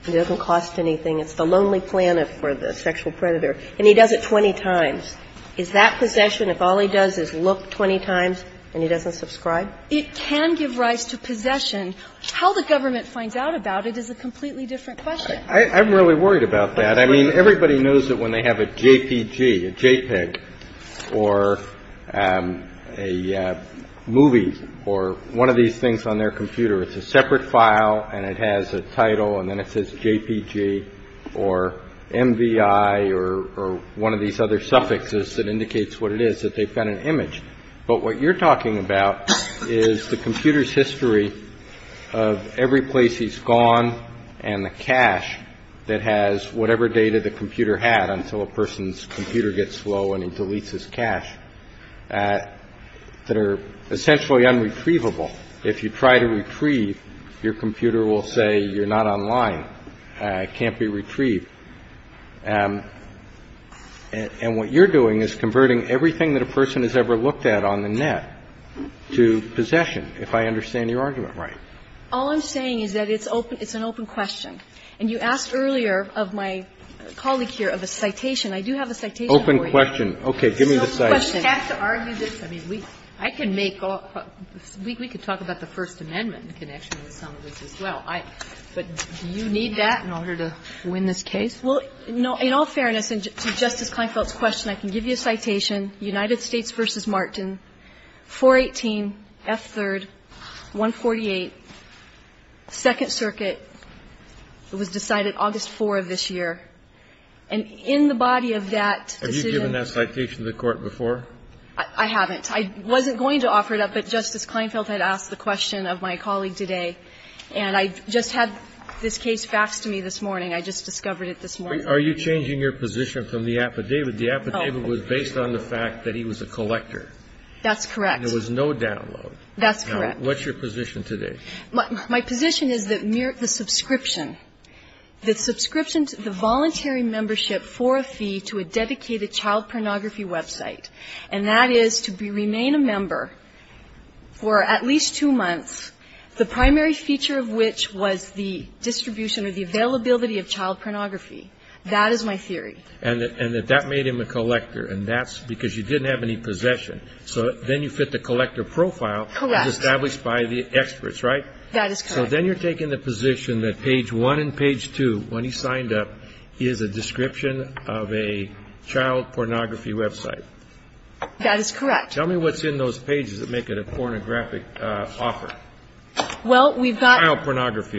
it doesn't cost anything, it's the lonely planet for the sexual predator, and he does it 20 times? Is that possession if all he does is look 20 times and he doesn't subscribe? It can give rise to possession. And how the government finds out about it is a completely different question. I'm really worried about that. I mean, everybody knows that when they have a JPG, a JPEG, or a movie, or one of these things on their computer, it's a separate file, and it has a title, and then it says JPG, or MVI, or one of these other suffixes that indicates what it is, that they've got an image. But what you're talking about is the computer's history of every place he's gone and the cache that has whatever data the computer had until a person's computer gets slow and he deletes his cache, that are essentially unretrievable. If you try to retrieve, your computer will say you're not online, can't be retrieved. And what you're doing is converting everything that a person has ever looked at on the net to possession, if I understand your argument right. All I'm saying is that it's an open question. And you asked earlier of my colleague here of a citation. I do have a citation for you. Open question. Okay. Give me the citation. So we have to argue this? I mean, I can make all the questions. We could talk about the First Amendment in connection with some of this as well. But do you need that in order to win this case? Well, in all fairness to Justice Kleinfeld's question, I can give you a citation. United States v. Martin, 418 F. 3rd, 148, Second Circuit. It was decided August 4th of this year. And in the body of that decision Are you given that citation to the Court before? I haven't. I wasn't going to offer it up, but Justice Kleinfeld had asked the question of my colleague today, and I just had this case faxed to me this morning. I just discovered it this morning. Are you changing your position from the affidavit? The affidavit was based on the fact that he was a collector. That's correct. And there was no download. That's correct. Now, what's your position today? My position is that the subscription, the subscription to the voluntary membership for a fee to a dedicated child pornography website, and that is to remain a member for at least two months, the primary feature of which was the distribution or the availability of child pornography. That is my theory. And that that made him a collector, and that's because you didn't have any possession. So then you fit the collector profile, which is established by the experts, right? That is correct. So then you're taking the position that page 1 and page 2, when he signed up, is a description of a child pornography website. That is correct. Tell me what's in those pages that make it a pornographic offer. Well, we've got the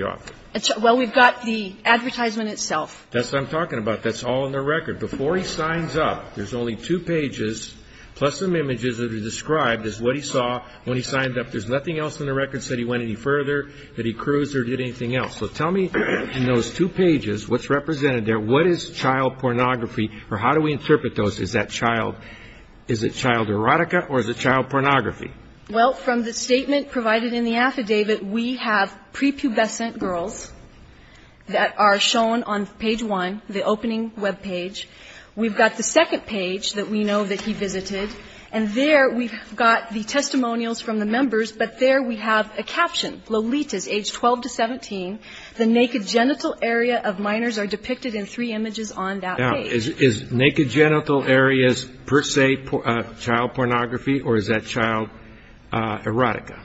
advertisement itself. That's what I'm talking about. That's all in the record. Before he signs up, there's only two pages, plus some images that are described as what he saw when he signed up. There's nothing else in the record that said he went any further, that he cruised or did anything else. So tell me, in those two pages, what's represented there? What is child pornography, or how do we interpret those? Is that child – is it child erotica, or is it child pornography? Well, from the statement provided in the affidavit, we have prepubescent girls that are shown on page 1, the opening web page. We've got the second page that we know that he visited, and there we've got the testimonials from the members, but there we have a caption, Lolita's, age 12 to 17. The naked genital area of minors are depicted in three images on that page. Now, is naked genital areas per se child pornography, or is that child erotica?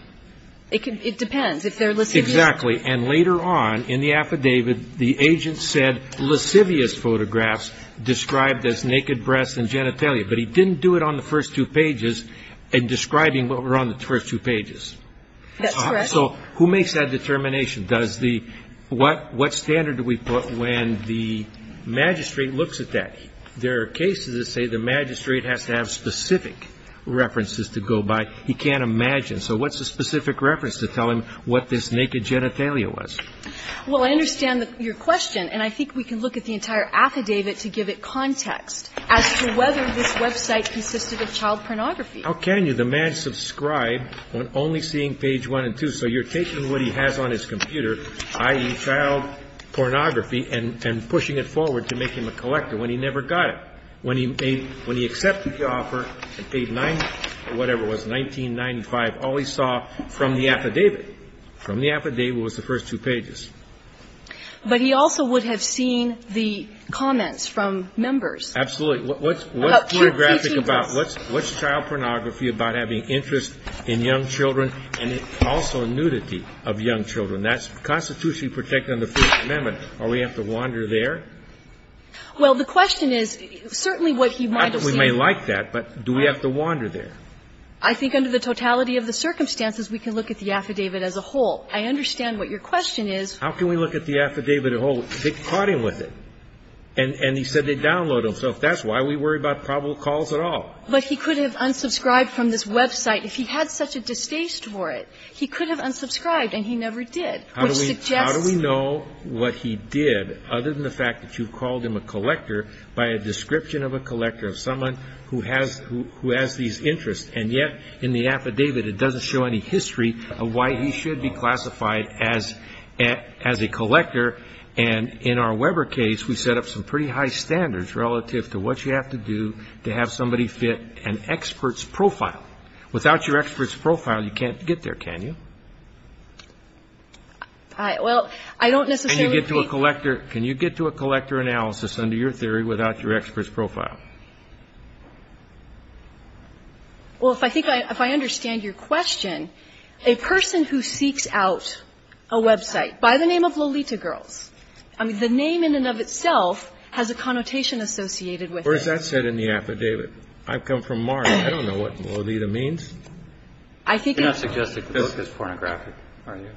It depends, if they're lascivious. Exactly, and later on in the affidavit, the agent said lascivious photographs described as naked breasts and genitalia, but he didn't do it on the first two pages in describing what were on the first two pages. That's correct. So who makes that determination? Does the – what standard do we put when the magistrate looks at that? There are cases that say the magistrate has to have specific references to go by. He can't imagine. So what's a specific reference to tell him what this naked genitalia was? Well, I understand your question, and I think we can look at the entire affidavit to give it context as to whether this website consisted of child pornography. How can you? The man subscribed on only seeing page 1 and 2, so you're taking what he has on his computer, i.e., child pornography, and pushing it forward to make him a collector when he never got it. When he made – when he accepted the offer and paid 90 or whatever it was, $19.95, all he saw from the affidavit, from the affidavit was the first two pages. But he also would have seen the comments from members. Absolutely. What's pornographic about – what's child pornography about having interest in young children and also nudity of young children? That's constitutionally protected under the Fifth Amendment. Are we going to have to wander there? Well, the question is, certainly what he might have seen – We may like that, but do we have to wander there? I think under the totality of the circumstances, we can look at the affidavit as a whole. I understand what your question is. How can we look at the affidavit as a whole? They caught him with it. And he said they'd download it. So if that's why we worry about probable cause at all. But he could have unsubscribed from this website if he had such a distaste for it. He could have unsubscribed, and he never did. How do we know what he did, other than the fact that you've called him a collector by a description of a collector, of someone who has these interests, and yet in the affidavit, it doesn't show any history of why he should be classified as a collector. And in our Weber case, we set up some pretty high standards relative to what you have to do to have somebody fit an expert's profile. Without your expert's profile, you can't get there, can you? Well, I don't necessarily think- Can you get to a collector analysis under your theory without your expert's profile? Well, if I understand your question, a person who seeks out a website by the name of Lolita Girls, I mean, the name in and of itself has a connotation associated with it. Where's that said in the affidavit? I've come from Mars. I don't know what Lolita means. I think- You're not suggesting the book is pornographic, are you?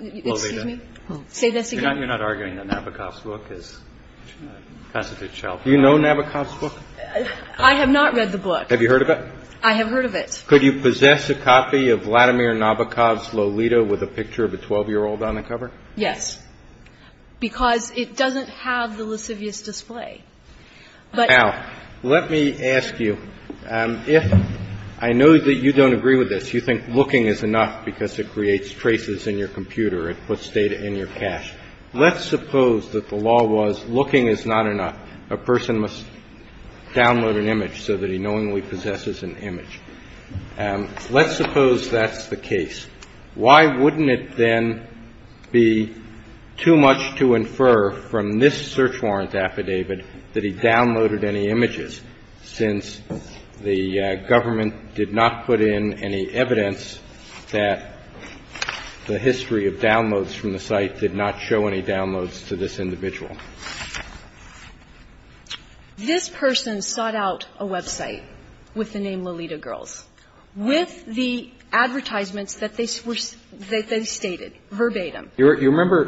Lolita? Excuse me? Say this again? You're not arguing that Nabokov's book is a constitute child pornography? Do you know Nabokov's book? I have not read the book. Have you heard of it? I have heard of it. Could you possess a copy of Vladimir Nabokov's Lolita with a picture of a 12-year-old on the cover? Yes, because it doesn't have the lascivious display. Now, let me ask you, if I know that you don't agree with this, you think looking is enough because it creates traces in your computer, it puts data in your cache. Let's suppose that the law was looking is not enough. A person must download an image so that he knowingly possesses an image. Let's suppose that's the case. Why wouldn't it then be too much to infer from this search warrant affidavit that he downloaded any images, since the government did not put in any evidence that the history of downloads from the site did not show any downloads to this individual? This person sought out a website with the name Lolita Girls, with the advertisements that they stated verbatim. Do you remember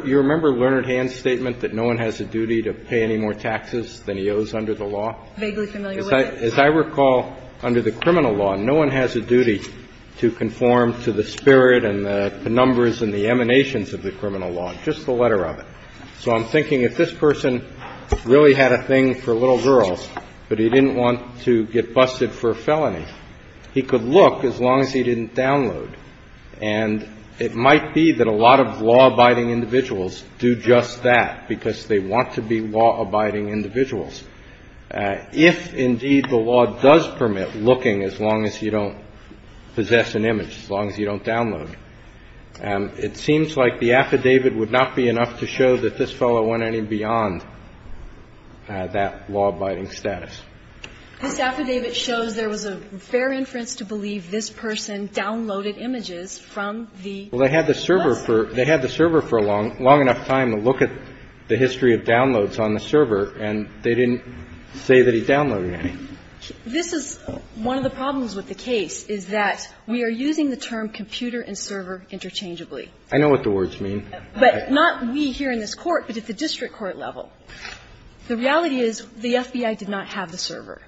Lerner and Hand's statement that no one has a duty to pay any more taxes than he owes under the law? Vaguely familiar with it. As I recall, under the criminal law, no one has a duty to conform to the spirit and the numbers and the emanations of the criminal law, just the letter of it. So I'm thinking if this person really had a thing for little girls, but he didn't want to get busted for a felony, he could look as long as he didn't download. And it might be that a lot of law-abiding individuals do just that, because they want to be law-abiding individuals. If, indeed, the law does permit looking as long as you don't possess an image, as long as you don't download, it seems like the affidavit would not be enough to show that this fellow went any beyond that law-abiding status. This affidavit shows there was a fair inference to believe this person downloaded images from the bus. Well, they had the server for a long enough time to look at the history of downloads on the server, and they didn't say that he downloaded any. This is one of the problems with the case is that we are using the term computer and server interchangeably. I know what the words mean. But not we here in this Court, but at the district court level. The reality is the FBI did not have the server.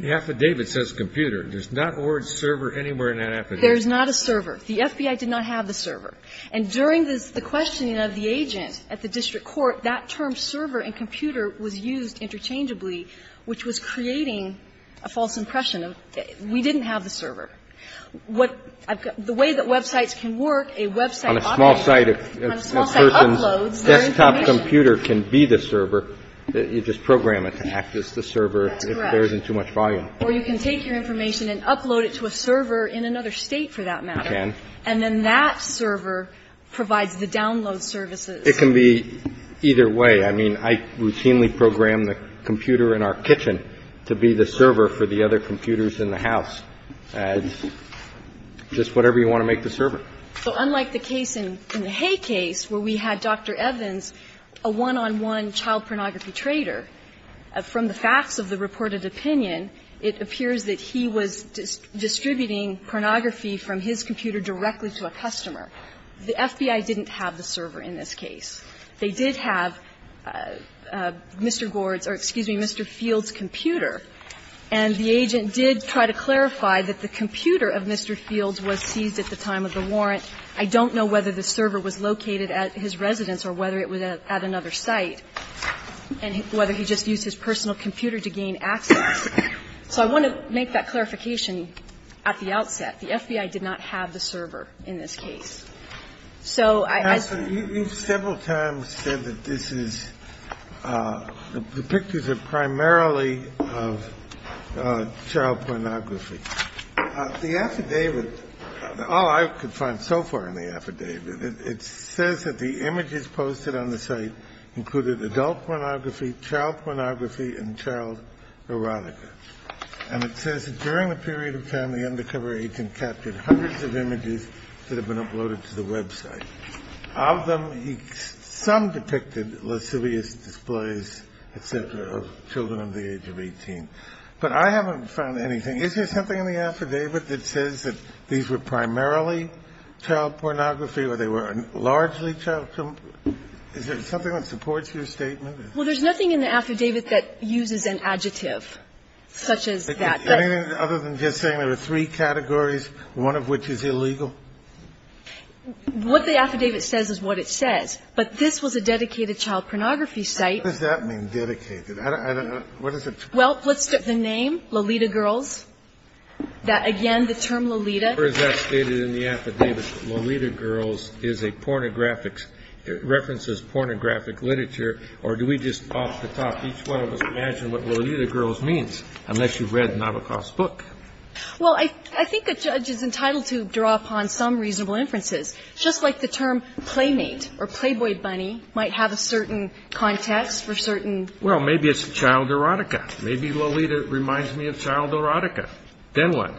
The affidavit says computer. There's not the word server anywhere in that affidavit. There's not a server. The FBI did not have the server. And during the questioning of the agent at the district court, that term server and computer was used interchangeably, which was creating a false impression of we didn't have the server. What the way that websites can work, a website operator, on a small site uploads their information. Desktop computer can be the server. You just program it to act as the server if there isn't too much volume. That's correct. Or you can take your information and upload it to a server in another State, for that matter. You can. And then that server provides the download services. It can be either way. I mean, I routinely program the computer in our kitchen to be the server for the other computers in the house as just whatever you want to make the server. So unlike the case in the Hay case where we had Dr. Evans, a one-on-one child pornography trader, from the facts of the reported opinion, it appears that he was distributing pornography from his computer directly to a customer. The FBI didn't have the server in this case. They did have Mr. Gord's or, excuse me, Mr. Field's computer, and the agent did try to clarify that the computer of Mr. Field's was seized at the time of the warrant. I don't know whether the server was located at his residence or whether it was at another site, and whether he just used his personal computer to gain access. So I want to make that clarification at the outset. The FBI did not have the server in this case. The next thing I want to talk about is the affidavit of child pornography. The affidavit, all I could find so far in the affidavit, it says that the images posted on the site included adult pornography, child pornography, and child erotica. And it says that during the period of time, the undercover agent captured hundreds of images that have been uploaded to the website. Of them, some depicted lascivious displays, et cetera, of children under the age of 18. But I haven't found anything. Is there something in the affidavit that says that these were primarily child pornography or they were largely child pornography? Is there something that supports your statement? Well, there's nothing in the affidavit that uses an adjective such as that. Anything other than just saying there were three categories, one of which is illegal? What the affidavit says is what it says. But this was a dedicated child pornography site. What does that mean, dedicated? I don't know. What is it? Well, let's get the name, Lolita Girls. That again, the term Lolita. Or is that stated in the affidavit, Lolita Girls is a pornographic, references pornographic literature, or do we just off the top, each one of us imagine what Lolita Girls means, unless you've read Nabokov's book? Well, I think a judge is entitled to draw upon some reasonable inferences. Just like the term playmate or playboy bunny might have a certain context for certain Well, maybe it's child erotica. Maybe Lolita reminds me of child erotica. Then what?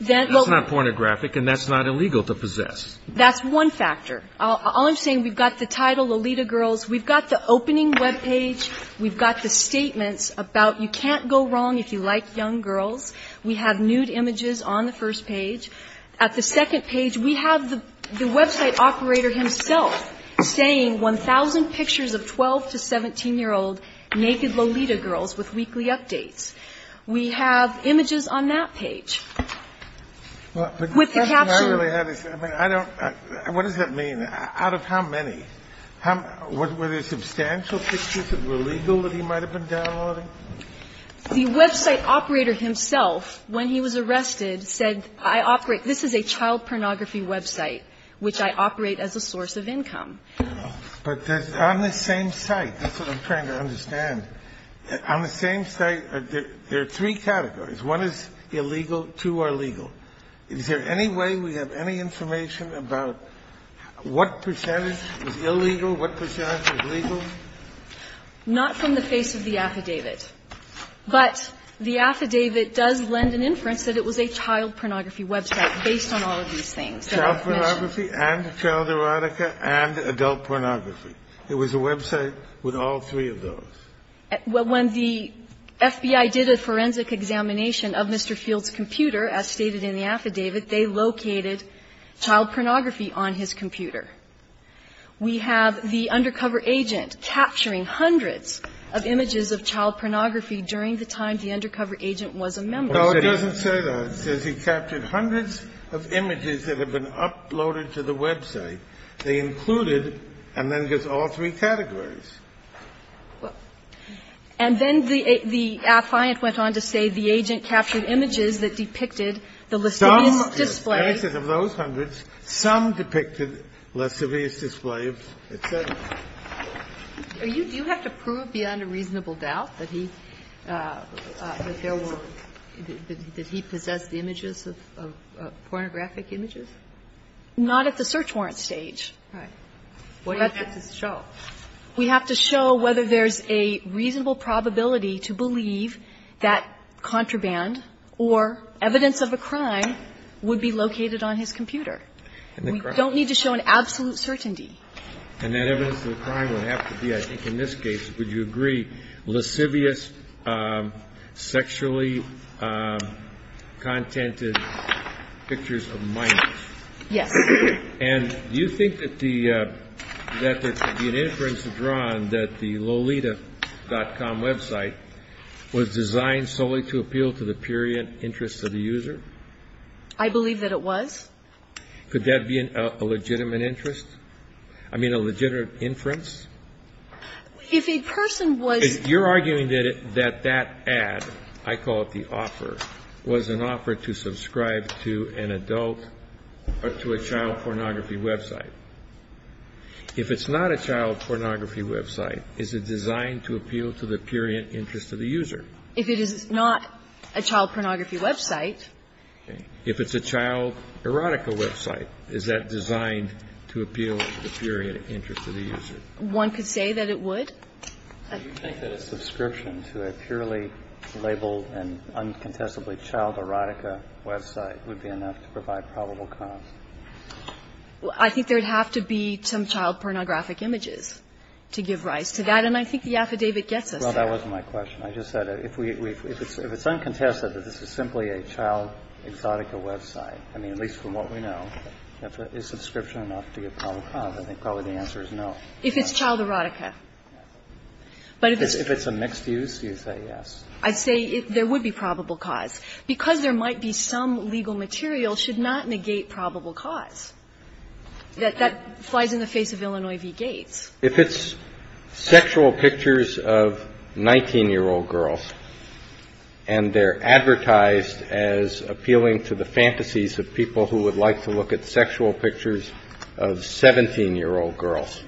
Then, well, it's not pornographic and that's not illegal to possess. That's one factor. All I'm saying, we've got the title, Lolita Girls. We've got the opening web page. We've got the statements about you can't go wrong if you like young girls. We have nude images on the first page. At the second page, we have the website operator himself saying 1,000 pictures of 12 to 17-year-old naked Lolita Girls with weekly updates. We have images on that page. With the caption. I mean, I don't, what does that mean? Out of how many? Were there substantial pictures that were legal that he might have been downloading? The website operator himself, when he was arrested, said I operate, this is a child pornography website, which I operate as a source of income. But on the same site, that's what I'm trying to understand. On the same site, there are three categories. One is illegal. Two are legal. Is there any way we have any information about what percentage is illegal, what percentage is legal? Not from the face of the affidavit. But the affidavit does lend an inference that it was a child pornography website based on all of these things that I've mentioned. Child pornography and child erotica and adult pornography. It was a website with all three of those. When the FBI did a forensic examination of Mr. Field's computer, as stated in the affidavit, they located child pornography on his computer. We have the undercover agent capturing hundreds of images of child pornography during the time the undercover agent was a member. No, it doesn't say that. It says he captured hundreds of images that have been uploaded to the website. They included, and then there's all three categories. And then the appliant went on to say the agent captured images that depicted the lascivious display. And it says of those hundreds, some depicted lascivious displays, et cetera. Do you have to prove beyond a reasonable doubt that he – that there were – that he possessed images of pornographic images? Not at the search warrant stage. Right. What do you have to show? We have to show whether there's a reasonable probability to believe that contraband or evidence of a crime would be located on his computer. And the crime? We don't need to show an absolute certainty. And that evidence of the crime would have to be, I think in this case, would you agree, lascivious, sexually contented pictures of minors? Yes. And do you think that the – that there could be an inference drawn that the lolita.com website was designed solely to appeal to the period interest of the user? I believe that it was. Could that be a legitimate interest? I mean, a legitimate inference? If a person was – If you're arguing that that ad, I call it the offer, was an offer to subscribe to an adult or to a child pornography website, if it's not a child pornography website, is it designed to appeal to the period interest of the user? If it is not a child pornography website. If it's a child erotica website, is that designed to appeal to the period interest of the user? One could say that it would. Do you think that a subscription to a purely labeled and uncontestably child erotica website would be enough to provide probable cause? I think there would have to be some child pornographic images to give rise to that. And I think the affidavit gets us there. Well, that wasn't my question. I just said if we – if it's uncontested that this is simply a child exotica website, I mean, at least from what we know, is subscription enough to give probable cause? I think probably the answer is no. If it's child erotica. But if it's a mixed use, you say yes. I say there would be probable cause. Because there might be some legal material, should not negate probable cause. That flies in the face of Illinois v. Gates. If it's sexual pictures of 19-year-old girls and they're advertised as appealing to the fantasies of people who would like to look at sexual pictures of 17-year-old girls,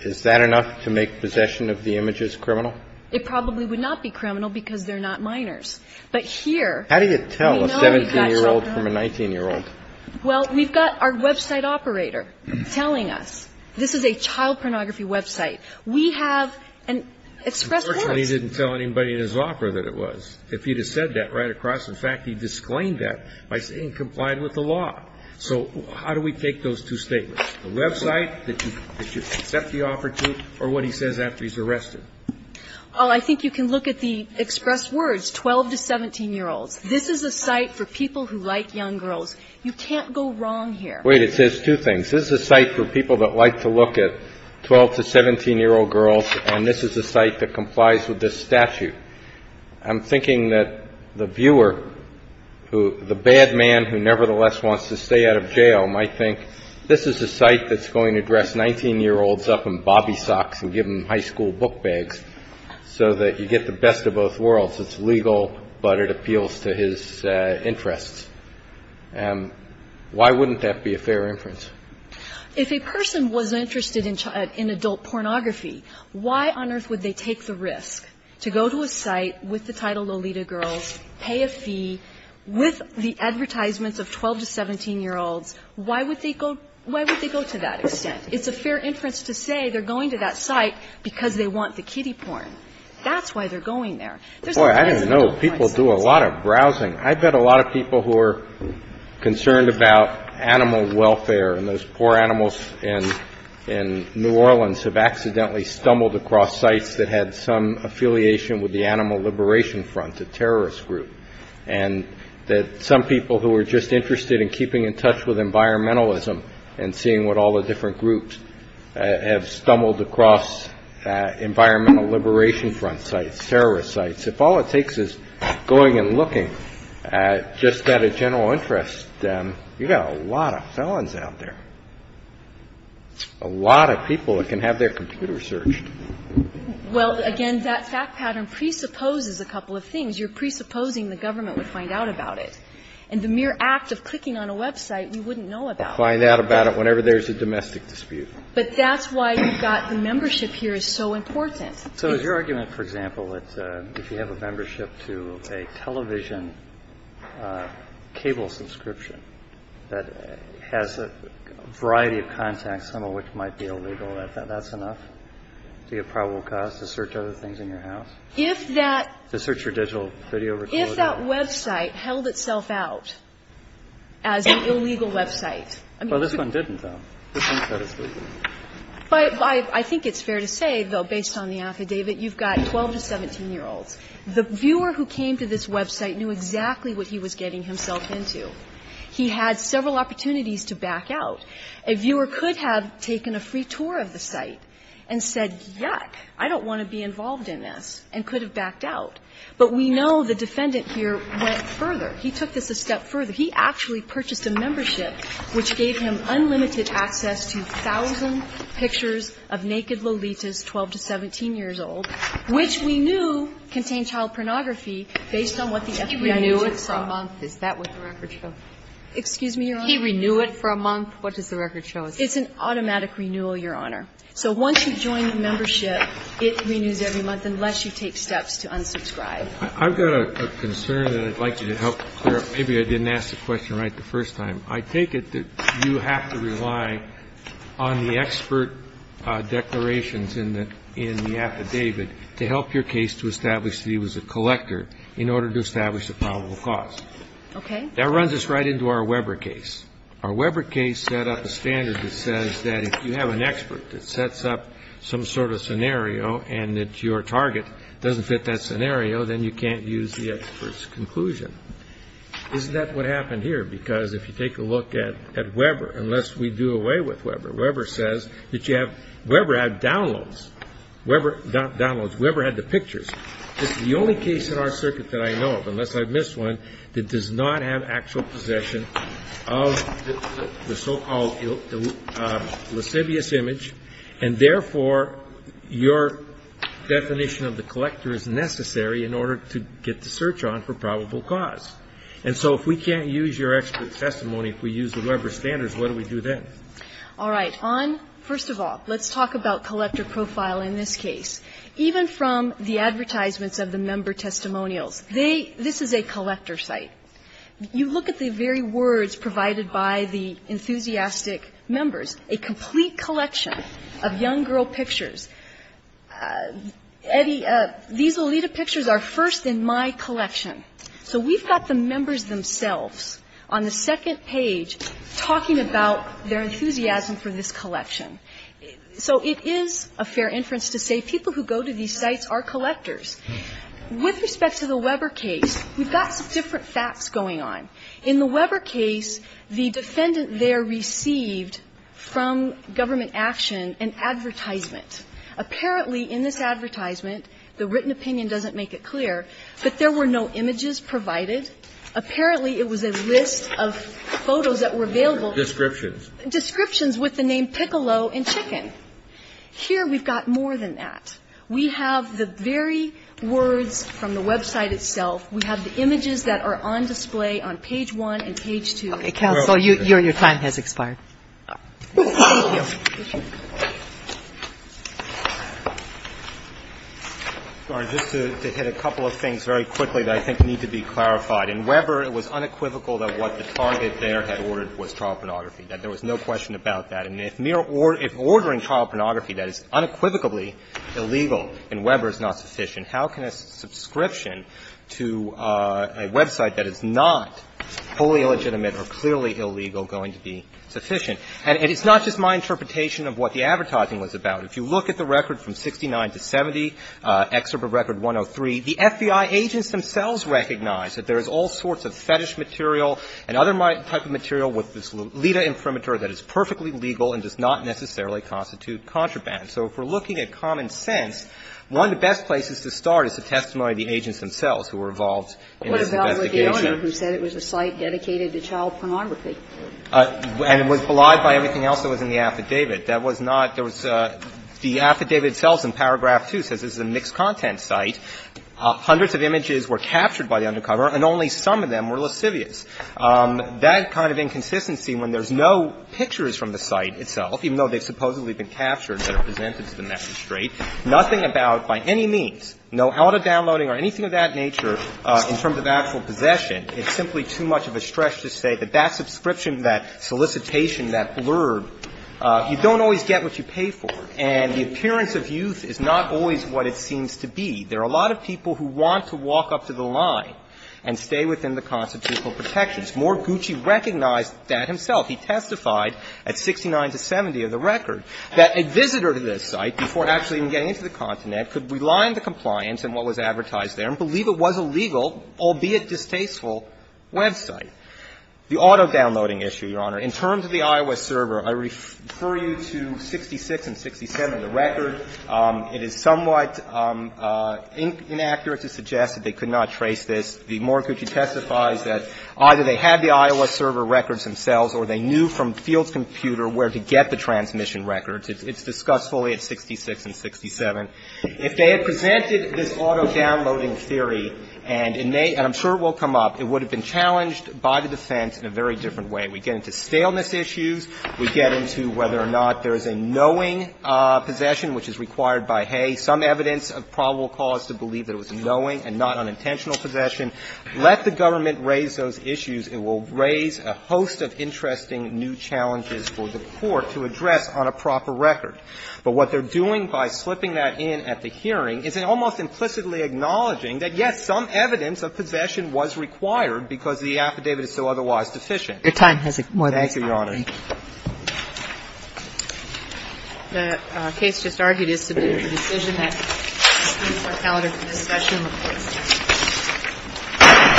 is that enough to make possession of the images criminal? It probably would not be criminal because they're not minors. But here we know we've got child pornography. How do you tell a 17-year-old from a 19-year-old? Well, we've got our website operator telling us this is a child pornography website. We have an express course. Unfortunately, he didn't tell anybody in his offer that it was. If he had said that right across, in fact, he disclaimed that by saying it complied with the law. So how do we take those two statements, the website that you accept the offer to or what he says after he's arrested? Well, I think you can look at the express words, 12 to 17-year-olds. This is a site for people who like young girls. You can't go wrong here. Wait, it says two things. This is a site for people that like to look at 12 to 17-year-old girls and this is a site that complies with this statute. I'm thinking that the viewer, the bad man who nevertheless wants to stay out of jail might think this is a site that's going to dress 19-year-olds up in bobby socks and give them high school book bags so that you get the best of both worlds. It's legal, but it appeals to his interests. Why wouldn't that be a fair inference? If a person was interested in adult pornography, why on earth would they take the risk to go to a site with the title Lolita Girls, pay a fee, with the advertisements of 12 to 17-year-olds, why would they go to that extent? It's a fair inference to say they're going to that site because they want the kiddie porn. That's why they're going there. There's a reason to go to a site like that. Roberts, I didn't know people do a lot of browsing. I bet a lot of people who are concerned about animal welfare and those poor animals in New Orleans have accidentally stumbled across sites that had some affiliation with the Animal Liberation Front, a terrorist group, and that some people who are just interested in that group have stumbled across Environmental Liberation Front sites, terrorist sites. If all it takes is going and looking at just at a general interest, you've got a lot of felons out there, a lot of people that can have their computers searched. Well, again, that fact pattern presupposes a couple of things. You're presupposing the government would find out about it. And the mere act of clicking on a website, you wouldn't know about. You wouldn't find out about it whenever there's a domestic dispute. But that's why you've got the membership here is so important. So is your argument, for example, that if you have a membership to a television cable subscription that has a variety of contacts, some of which might be illegal, that that's enough to be a probable cause to search other things in your house? If that to search your digital video recorder. And if that website held itself out as an illegal website, I mean. Well, this one didn't, though. This one said it's legal. I think it's fair to say, though, based on the affidavit, you've got 12 to 17-year-olds. The viewer who came to this website knew exactly what he was getting himself into. He had several opportunities to back out. A viewer could have taken a free tour of the site and said, yuck, I don't want to be involved in this, and could have backed out. But we know the defendant here went further. He took this a step further. He actually purchased a membership which gave him unlimited access to 1,000 pictures of naked Lolitas 12 to 17 years old, which we knew contained child pornography based on what the FBI news was. Is that what the record shows? Excuse me, Your Honor? He renewed it for a month. What does the record show? It's an automatic renewal, Your Honor. So once you join the membership, it renews every month unless you take steps to unsubscribe. I've got a concern that I'd like you to help clear up. Maybe I didn't ask the question right the first time. I take it that you have to rely on the expert declarations in the affidavit to help your case to establish that he was a collector in order to establish a probable cause. Okay. That runs us right into our Weber case. Our Weber case set up a standard that says that if you have an expert that sets up some sort of scenario and that your target doesn't fit that scenario, then you can't use the expert's conclusion. Isn't that what happened here? Because if you take a look at Weber, unless we do away with Weber, Weber says that you have, Weber had downloads. Weber, not downloads, Weber had the pictures. It's the only case in our circuit that I know of, unless I've missed one, that does not have actual possession of the so-called lascivious image, and therefore your definition of the collector is necessary in order to get the search on for probable cause. And so if we can't use your expert testimony, if we use the Weber standards, what do we do then? All right. On, first of all, let's talk about collector profile in this case. Even from the advertisements of the member testimonials, they, this is a collector site. You look at the very words provided by the enthusiastic members, a complete collection of young girl pictures. Eddie, these Lolita pictures are first in my collection. So we've got the members themselves on the second page talking about their enthusiasm for this collection. So it is a fair inference to say people who go to these sites are collectors. With respect to the Weber case, we've got some different facts going on. In the Weber case, the defendant there received from government action an advertisement. Apparently in this advertisement, the written opinion doesn't make it clear, but there were no images provided. Apparently it was a list of photos that were available. Descriptions. Descriptions with the name Piccolo and Chicken. Here we've got more than that. We have the very words from the website itself. We have the images that are on display on page 1 and page 2. Counsel, your time has expired. Thank you. Sorry. Just to hit a couple of things very quickly that I think need to be clarified. In Weber, it was unequivocal that what the target there had ordered was child pornography, that there was no question about that. And if mere ordering child pornography that is unequivocally illegal in Weber is not sufficient, how can a subscription to a website that is not fully illegitimate or clearly illegal going to be sufficient? And it's not just my interpretation of what the advertising was about. If you look at the record from 69 to 70, Excerpt of Record 103, the FBI agents themselves recognize that there is all sorts of fetish material and other type of material with this LIDA imprimatur that is perfectly legal and does not necessarily constitute contraband. So if we're looking at common sense, one of the best places to start is to testimony the agents themselves who were involved in this investigation. What about the owner who said it was a site dedicated to child pornography? And it was belied by everything else that was in the affidavit. That was not the affidavit itself in paragraph 2 says it's a mixed content site. Hundreds of images were captured by the undercover, and only some of them were lascivious. That kind of inconsistency when there's no pictures from the site itself, even though they've supposedly been captured that are presented to the magistrate, nothing about, by any means, no out-of-downloading or anything of that nature in terms of actual possession, it's simply too much of a stretch to say that that subscription, that solicitation, that blurb, you don't always get what you pay for. And the appearance of youth is not always what it seems to be. There are a lot of people who want to walk up to the line and stay within the constitutional protections. More, Gucci recognized that himself. He testified at 69 to 70 of the record that a visitor to this site, before actually even getting into the continent, could rely on the compliance and what was advertised there and believe it was a legal, albeit distasteful, website. The auto-downloading issue, Your Honor, in terms of the iOS server, I refer you to 66 and 67 of the record. It is somewhat inaccurate to suggest that they could not trace this. The more Gucci testifies that either they had the iOS server records themselves or they knew from Fields' computer where to get the transmission records. It's discussed fully at 66 and 67. If they had presented this auto-downloading theory, and it may, and I'm sure it will come up, it would have been challenged by the defense in a very different way. We get into staleness issues. We get into whether or not there is a knowing possession, which is required by Hay. Some evidence of probable cause to believe that it was a knowing and not unintentional possession. Let the government raise those issues. It will raise a host of interesting new challenges for the Court to address on a proper record. But what they're doing by slipping that in at the hearing is almost implicitly acknowledging that, yes, some evidence of possession was required because the affidavit is so otherwise deficient. Thank you, Your Honor. The case just argued is to be a decision that is not valid in this session.